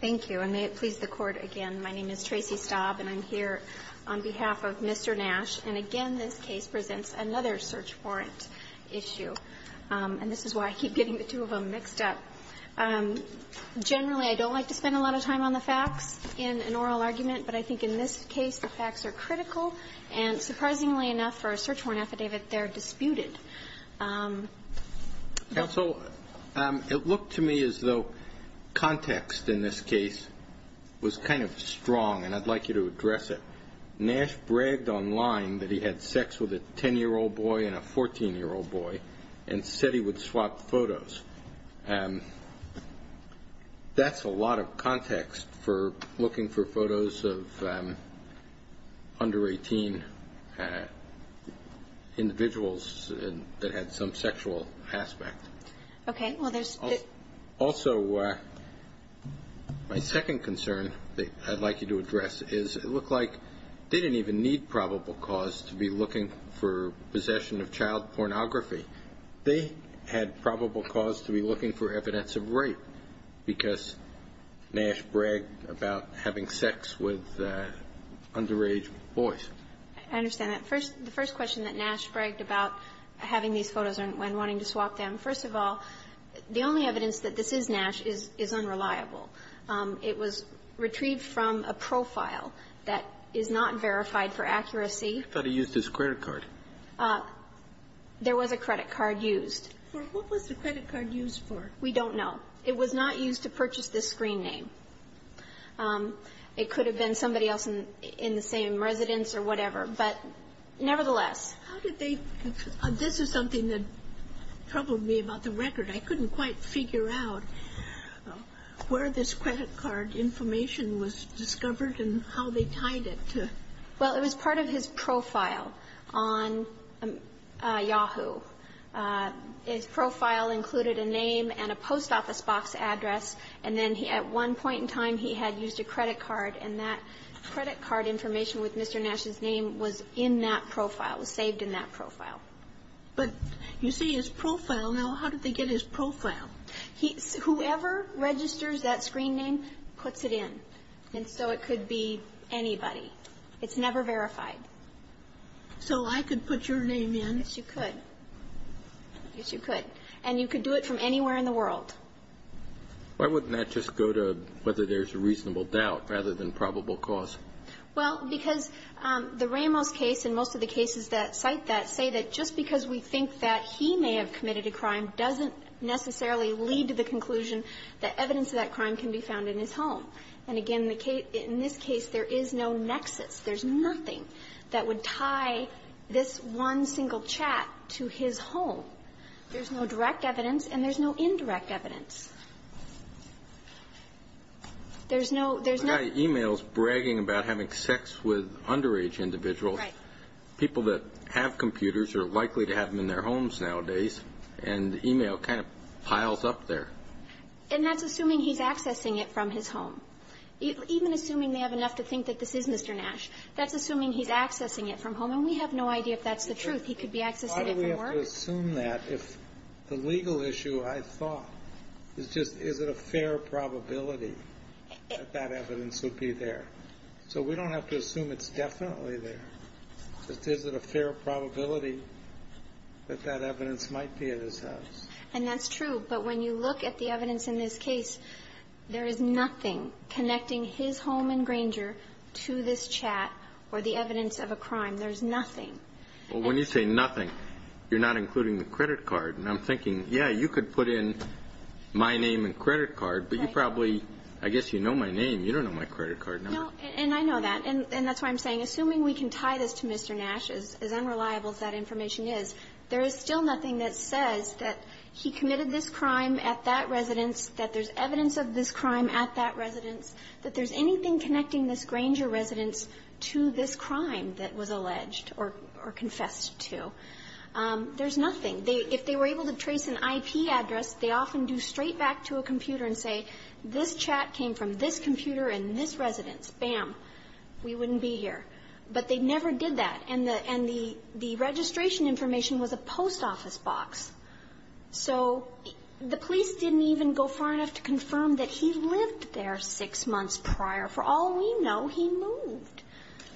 Thank you, and may it please the Court again, my name is Tracy Staub, and I'm here on behalf of Mr. Nash. And again, this case presents another search warrant issue, and this is why I keep getting the two of them mixed up. Generally, I don't like to spend a lot of time on the facts in an oral argument, but I think in this case the facts are critical, and surprisingly enough for a search warrant affidavit, they're disputed. And so it looked to me as though context in this case was kind of strong, and I'd like you to address it. Nash bragged online that he had sex with a 10-year-old boy and a 14-year-old boy, and said he would swap photos. That's a lot of context for looking for photos of under 18 individuals that had some sexual aspect. Also, my second concern that I'd like you to address is it looked like they didn't even need probable cause to be looking for possession of child pornography. They had probable cause to be looking for evidence of rape, because Nash bragged about having sex with underage boys. I understand that. First, the first question that Nash bragged about having these photos and wanting to swap them, first of all, the only evidence that this is Nash is unreliable. It was retrieved from a profile that is not verified for accuracy. I thought he used his credit card. There was a credit card used. For what was the credit card used for? We don't know. It was not used to purchase this screen name. It could have been somebody else in the same residence or whatever, but nevertheless. How did they – this is something that troubled me about the record. I couldn't quite figure out where this credit card information was discovered and how they tied it to – Well, it was part of his profile on Yahoo. His profile included a name and a post office box address, and then at one point in time he had used a credit card, and that credit card information with Mr. Nash's name was in that profile, was saved in that profile. But you see his profile. Now, how did they get his profile? Whoever registers that screen name puts it in. And so it could be anybody. It's never verified. So I could put your name in? Yes, you could. Yes, you could. And you could do it from anywhere in the world. Why wouldn't that just go to whether there's a reasonable doubt rather than probable cause? Well, because the Ramos case and most of the cases that cite that say that just because we think that he may have committed a crime doesn't necessarily lead to the conclusion that evidence of that crime can be found in his home. And again, in this case, there is no nexus. There's nothing that would tie this one single chat to his home. There's no direct evidence and there's no indirect evidence. There's no – there's no – I've got emails bragging about having sex with underage individuals, people that have computers or are likely to have them in their homes nowadays, and the email kind of piles up there. And that's assuming he's accessing it from his home. Even assuming they have enough to think that this is Mr. Nash. That's assuming he's accessing it from home. And we have no idea if that's the truth. He could be accessing it from work. Why do we have to assume that if the legal issue, I thought, is just is it a fair probability that that evidence would be there? So we don't have to assume it's definitely there. It's just is it a fair probability that that evidence might be at his house? And that's true. But when you look at the evidence in this case, there is nothing connecting his home in Granger to this chat or the evidence of a crime. There's nothing. Well, when you say nothing, you're not including the credit card. And I'm thinking, yeah, you could put in my name and credit card, but you probably – I guess you know my name. You don't know my credit card number. No. And I know that. And that's why I'm saying, assuming we can tie this to Mr. Nash, as unreliable as that information is, there is still nothing that says that he committed this crime at that residence, that there's evidence of this crime at that residence. If there's anything connecting this Granger residence to this crime that was alleged or confessed to, there's nothing. If they were able to trace an IP address, they often do straight back to a computer and say, this chat came from this computer in this residence. Bam. We wouldn't be here. But they never did that. And the registration information was a post office box. So the police didn't even go far enough to confirm that he lived there six months prior. For all we know, he moved.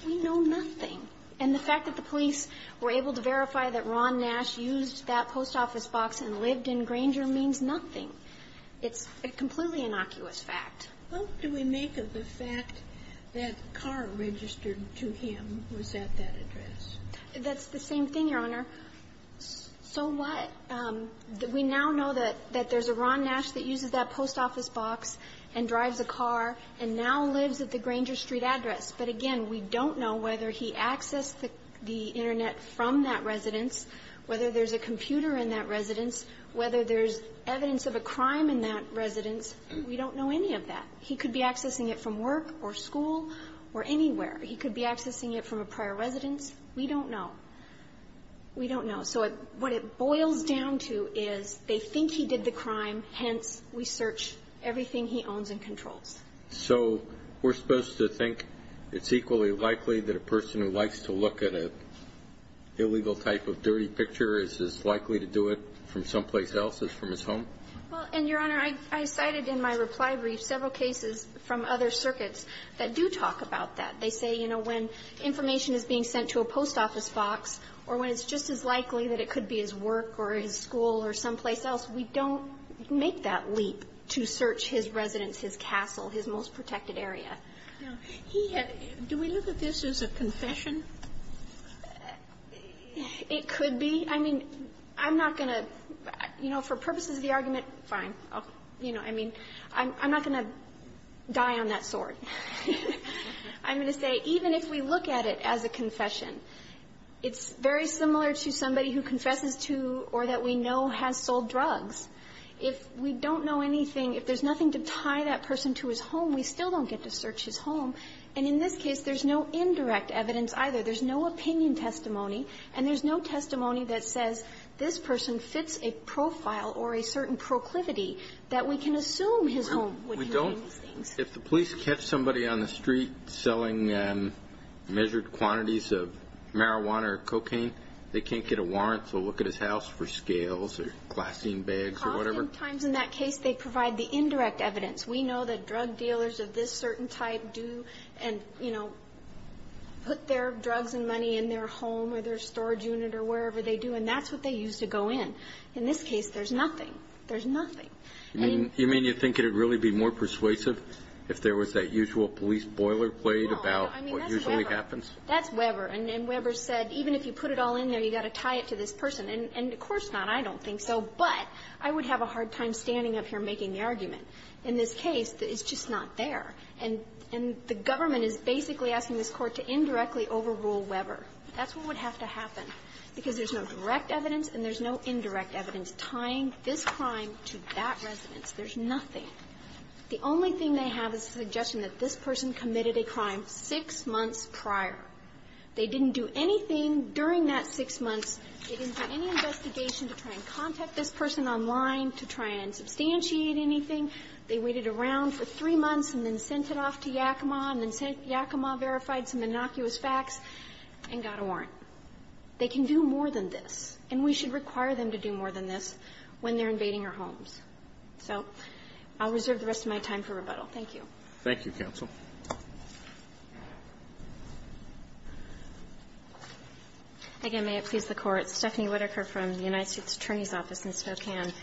We know nothing. And the fact that the police were able to verify that Ron Nash used that post office box and lived in Granger means nothing. It's a completely innocuous fact. How do we make of the fact that a car registered to him was at that address? That's the same thing, Your Honor. So what – we now know that there's a Ron Nash that uses that post office box and drives a car and now lives at the Granger Street address. But again, we don't know whether he accessed the Internet from that residence, whether there's a computer in that residence, whether there's evidence of a crime in that residence. We don't know any of that. He could be accessing it from work or school or anywhere. He could be accessing it from a prior residence. We don't know. We don't know. So what it boils down to is they think he did the crime. Hence, we search everything he owns and controls. So we're supposed to think it's equally likely that a person who likes to look at an illegal type of dirty picture is as likely to do it from someplace else as from his home? Well, and, Your Honor, I cited in my reply brief several cases from other circuits that do talk about that. They say, you know, when information is being sent to a post office box or when it's just as likely that it could be his work or his school or someplace else, we don't make that leap to search his residence, his castle, his most protected area. Now, he had – do we look at this as a confession? It could be. I mean, I'm not going to – you know, for purposes of the argument, fine. You know, I mean, I'm not going to die on that sword. I'm going to say, even if we look at it as a confession, it's very similar to somebody who confesses to or that we know has sold drugs. If we don't know anything, if there's nothing to tie that person to his home, we still don't get to search his home. And in this case, there's no indirect evidence either. There's no opinion testimony, and there's no testimony that says this person fits a profile or a certain proclivity that we can assume his home would have done these things. If the police catch somebody on the street selling measured quantities of marijuana or cocaine, they can't get a warrant to look at his house for scales or glassine bags or whatever? Oftentimes in that case, they provide the indirect evidence. We know that drug or their storage unit or wherever they do, and that's what they use to go in. In this case, there's nothing. There's nothing. I mean – You mean you think it would really be more persuasive if there was that usual police boilerplate about what usually happens? No. I mean, that's Weber. That's Weber. And Weber said, even if you put it all in there, you've got to tie it to this person. And of course not. I don't think so. But I would have a hard time standing up here making the argument. In this case, it's just not there. And the government is basically asking this Court to indirectly overrule Weber. That's what would have to happen, because there's no direct evidence and there's no indirect evidence tying this crime to that residence. There's nothing. The only thing they have is a suggestion that this person committed a crime six months prior. They didn't do anything during that six months. They didn't do any investigation to try and contact this person online to try and send it off to Yakima, and then Yakima verified some innocuous facts and got a warrant. They can do more than this. And we should require them to do more than this when they're invading our homes. So I'll reserve the rest of my time for rebuttal. Thank you. Thank you, counsel. Again, may it please the Court. Stephanie Whitaker from the United States Attorney's Office in Spokane.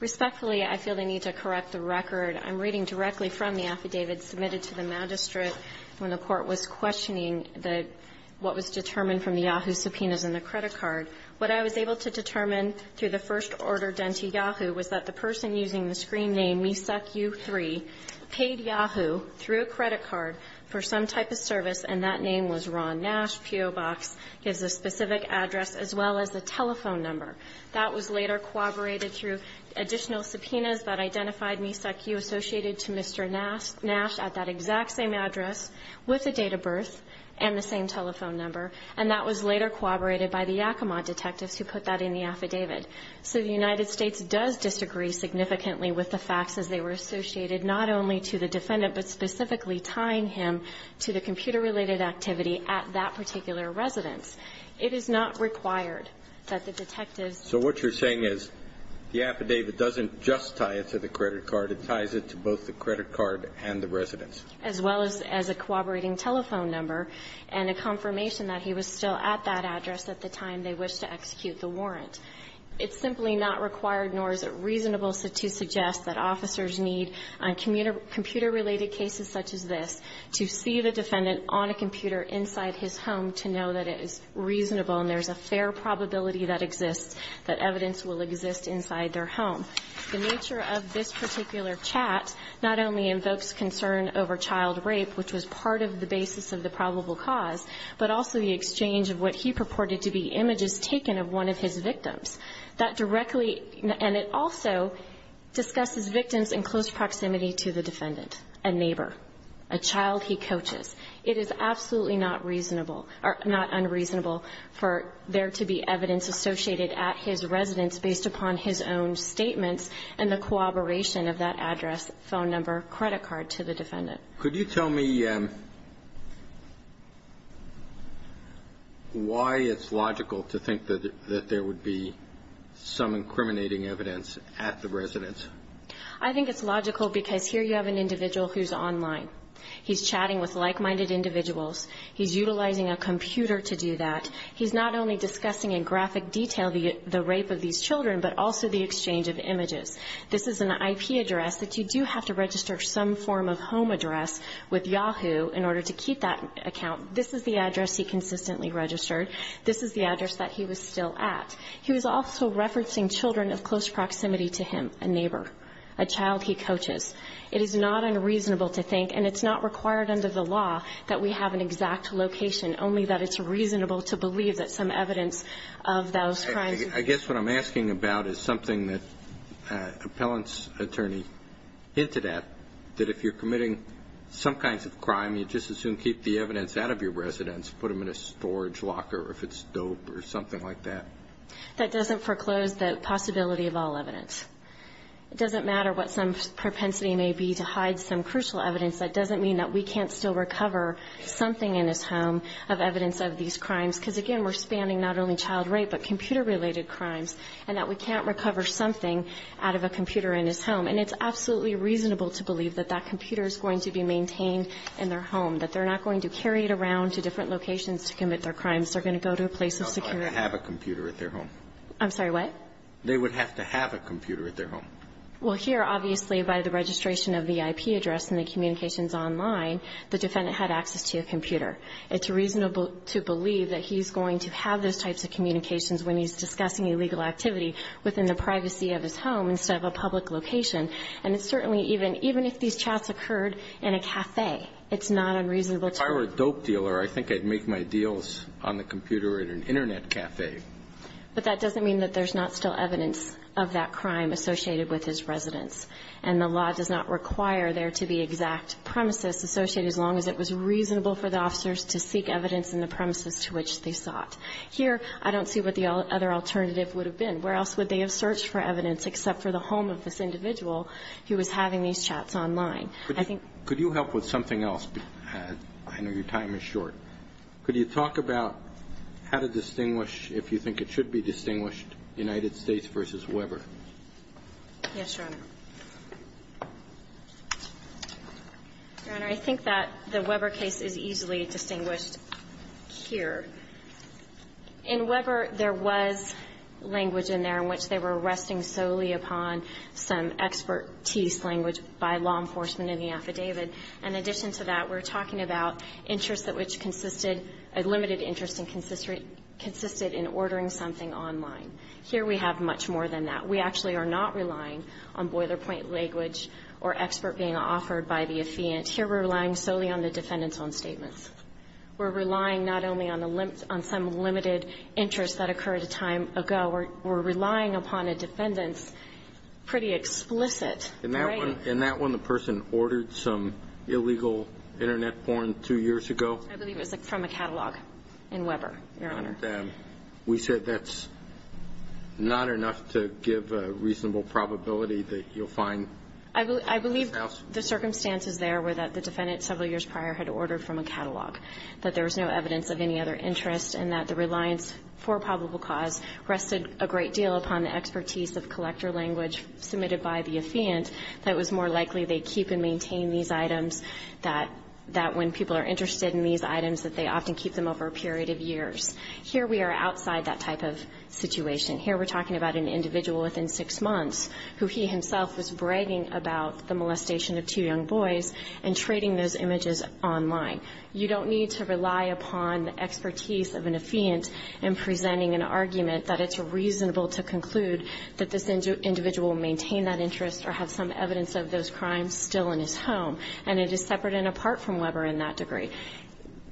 Respectfully, I feel the need to correct the record. I'm reading directly from the affidavit submitted to the magistrate when the Court was questioning the what was determined from the Yahoo subpoenas in the credit card. What I was able to determine through the first order done to Yahoo was that the person using the screen name WeSuckU3 paid Yahoo through a credit card for some type of service, and that name was Ron Nash, P.O. Box, gives a specific address as well as a telephone number. That was later corroborated through additional subpoenas that identified WeSuckU associated to Mr. Nash at that exact same address with the date of birth and the same telephone number, and that was later corroborated by the Yakima detectives who put that in the affidavit. So the United States does disagree significantly with the facts as they were associated not only to the defendant, but specifically tying him to the computer-related activity at that particular residence. It is not required that the detectives So what you're saying is the affidavit doesn't just tie it to the credit card. It ties it to both the credit card and the residence. As well as a corroborating telephone number and a confirmation that he was still at that address at the time they wished to execute the warrant. It's simply not required, nor is it reasonable to suggest that officers need on computer-related cases such as this to see the defendant on a computer inside his home to know that it is reasonable and there's a fair probability that exists, that evidence will exist inside their home. The nature of this particular chat not only invokes concern over child rape, which was part of the basis of the probable cause, but also the exchange of what he purported to be images taken of one of his victims. That directly, and it also discusses victims in close proximity to the defendant, a neighbor, a child he coaches. It is absolutely not reasonable or not unreasonable for there to be evidence associated at his residence based upon his own statements and the corroboration of that address, phone number, credit card to the defendant. Could you tell me why it's logical to think that there would be some incriminating evidence at the residence? I think it's logical because here you have an individual who's online. He's chatting with like-minded individuals. He's utilizing a computer to do that. He's not only discussing in graphic detail the rape of these children, but also the exchange of images. This is an IP address that you do have to register some form of home address with Yahoo in order to keep that account. This is the address he consistently registered. This is the address that he was still at. He was also referencing children of close proximity to him, a neighbor, a child he coaches. It is not unreasonable to think, and it's not required under the law, that we have an exact location, only that it's reasonable to believe that some evidence of those crimes. I guess what I'm asking about is something that appellant's attorney hinted at, that if you're committing some kinds of crime, you just assume keep the evidence out of your residence, put them in a storage locker if it's dope or something like that. That doesn't foreclose the possibility of all evidence. It doesn't matter what some propensity may be to hide some crucial evidence. That doesn't mean that we can't still recover something in his home of evidence of these crimes, because, again, we're spanning not only child rape, but computer related crimes, and that we can't recover something out of a computer in his home. And it's absolutely reasonable to believe that that computer is going to be maintained in their home, that they're not going to carry it around to different locations to commit their crimes. They're going to go to a place of security. They would have to have a computer at their home. I'm sorry, what? They would have to have a computer at their home. Well, here, obviously, by the registration of the IP address and the communications online, the defendant had access to a computer. It's reasonable to believe that he's going to have those types of communications when he's discussing illegal activity within the privacy of his home instead of a public location. And it's certainly even – even if these chats occurred in a café, it's not unreasonable to – If I were a dope dealer, I think I'd make my deals on the computer at an Internet café. But that doesn't mean that there's not still evidence of that crime associated with his residence. And the law does not require there to be exact premises associated, as long as it was reasonable for the officers to seek evidence in the premises to which they sought. Here, I don't see what the other alternative would have been. Where else would they have searched for evidence except for the home of this individual who was having these chats online? I think – Could you help with something else? I know your time is short. Could you talk about how to distinguish, if you think it should be distinguished, United States v. Weber? Yes, Your Honor. Your Honor, I think that the Weber case is easily distinguished here. In Weber, there was language in there in which they were resting solely upon some expertise language by law enforcement in the affidavit. In addition to that, we're talking about interests that which consisted – a limited interest and consisted in ordering something online. Here, we have much more than that. We actually are not relying on boiler-point language or expert being offered by the affiant. Here, we're relying solely on the defendant's own statements. We're relying not only on the – on some limited interest that occurred a time ago. We're relying upon a defendant's pretty explicit writing. In that one, the person ordered some illegal Internet porn two years ago? I believe it was from a catalog in Weber, Your Honor. We said that's not enough to give a reasonable probability that you'll find – I believe the circumstances there were that the defendant several years prior had ordered from a catalog, that there was no evidence of any other interest, and that the reliance for probable cause rested a great deal upon the expertise of collector language submitted by the affiant, that it was more likely they keep and maintain these items, that when people are interested in these items, that they often keep them over a period of years. Here, we are outside that type of situation. Here, we're talking about an individual within six months who he himself was bragging about the molestation of two young boys and trading those images online. You don't need to rely upon the expertise of an affiant in presenting an argument that it's reasonable to conclude that this individual maintained that interest or have some evidence of those crimes still in his home, and it is separate and apart from Weber in that degree.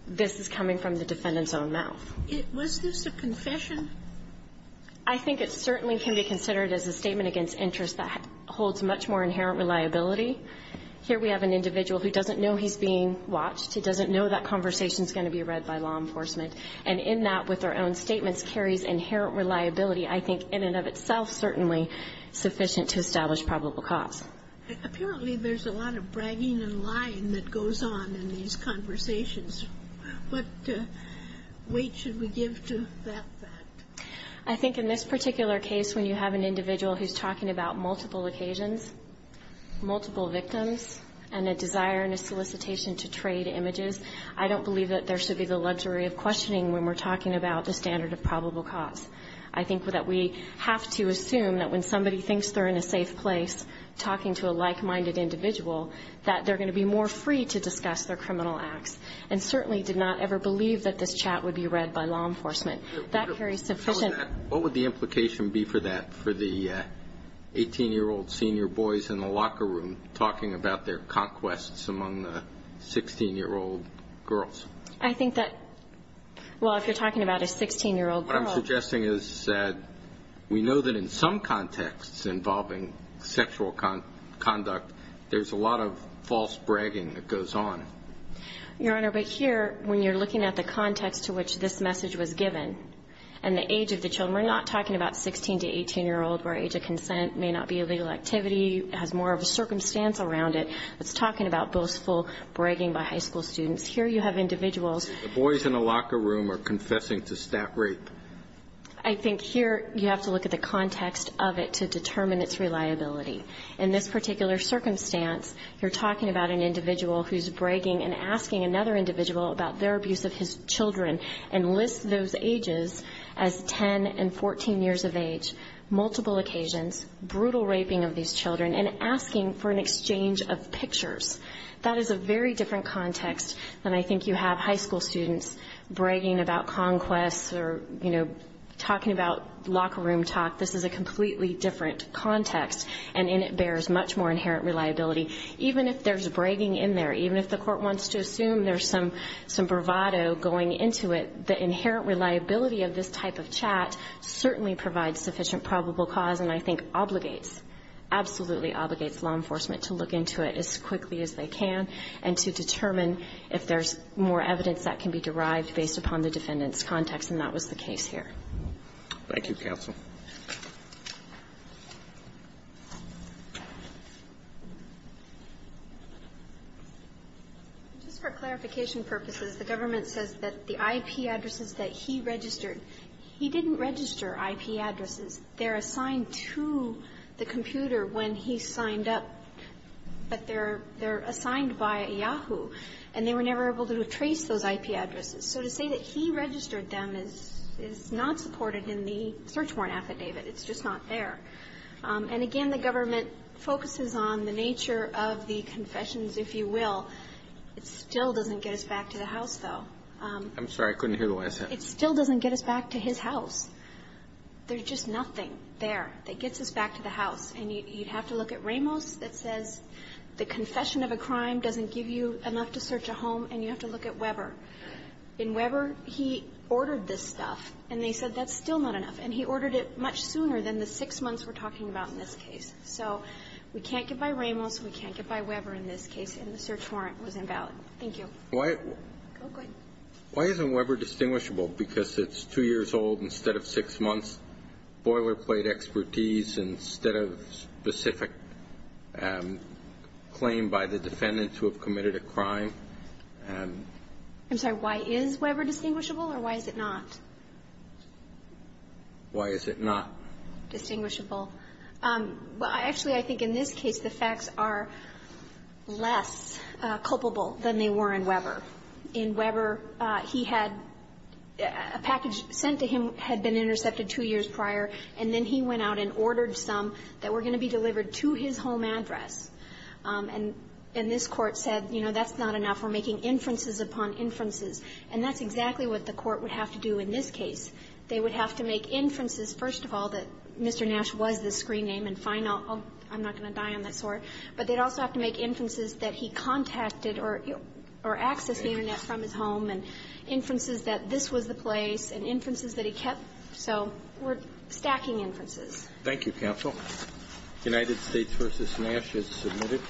This is coming from the defendant's own mouth. Was this a confession? I think it certainly can be considered as a statement against interest that holds much more inherent reliability. Here, we have an individual who doesn't know he's being watched. He doesn't know that conversation is going to be read by law enforcement. And in that, with their own statements, carries inherent reliability, I think, in and of itself, certainly sufficient to establish probable cause. Apparently, there's a lot of bragging and lying that goes on in these conversations. What weight should we give to that fact? I think in this particular case, when you have an individual who's talking about multiple occasions, multiple victims, and a desire and a solicitation to trade images, I don't believe that there should be the luxury of questioning when we're talking about the standard of probable cause. I think that we have to assume that when somebody thinks they're in a safe place talking to a like-minded individual, that they're going to be more free to discuss their criminal acts, and certainly did not ever believe that this chat would be read by law enforcement. That carries sufficient to establish probability. What would the implication be for that, for the 18-year-old senior boys in the locker room talking about their conquests among the 16-year-old girls? I think that – well, if you're talking about a 16-year-old girl – What I'm suggesting is that we know that in some contexts involving sexual conduct, there's a lot of false bragging that goes on. Your Honor, but here, when you're looking at the context to which this message was given, and the age of the children, we're not talking about 16- to 18-year-old where age of consent may not be a legal activity, has more of a circumstance around it. It's talking about boastful bragging by high school students. Here you have individuals – The boys in the locker room are confessing to stat rape. I think here you have to look at the context of it to determine its reliability. In this particular circumstance, you're talking about an individual who's bragging and asking another individual about their abuse of his children and lists those occasions, brutal raping of these children, and asking for an exchange of pictures. That is a very different context than I think you have high school students bragging about conquests or, you know, talking about locker room talk. This is a completely different context, and in it bears much more inherent reliability. Even if there's bragging in there, even if the Court wants to assume there's some bravado going into it, the inherent reliability of this type of chat certainly provides sufficient probable cause and I think obligates, absolutely obligates law enforcement to look into it as quickly as they can and to determine if there's more evidence that can be derived based upon the defendant's context, and that was the case here. Thank you, counsel. Just for clarification purposes, the government says that the IP addresses that he registered, he didn't register IP addresses. They're assigned to the computer when he signed up, but they're assigned by Yahoo, and they were never able to trace those IP addresses. So to say that he registered them is not supported in the search warrant affidavit. It's just not there. And again, the government focuses on the nature of the confessions, if you will. It still doesn't get us back to the house, though. I'm sorry, I couldn't hear the last sentence. It still doesn't get us back to his house. There's just nothing there that gets us back to the house. And you'd have to look at Ramos that says the confession of a crime doesn't give you enough to search a home, and you have to look at Weber. In Weber, he ordered this stuff, and they said that's still not enough, and he ordered it much sooner than the six months we're talking about in this case. So we can't get by Ramos, we can't get by Weber in this case, and the search warrant was invalid. Thank you. Why isn't Weber distinguishable? Because it's two years old instead of six months? Boilerplate expertise instead of specific claim by the defendants who have committed a crime? I'm sorry. Why is Weber distinguishable, or why is it not? Why is it not? Distinguishable. Well, actually, I think in this case, the facts are less culpable than they were in Weber. In Weber, he had a package sent to him had been intercepted two years prior, and then he went out and ordered some that were going to be delivered to his home address. And this Court said, you know, that's not enough. We're making inferences upon inferences. And that's exactly what the Court would have to do in this case. They would have to make inferences, first of all, that Mr. Nash was the screen name and final. I'm not going to die on that sword. But they'd also have to make inferences that he contacted or accessed the Internet from his home and inferences that this was the place and inferences that he kept. So we're stacking inferences. Thank you, counsel. United States v. Nash is submitted.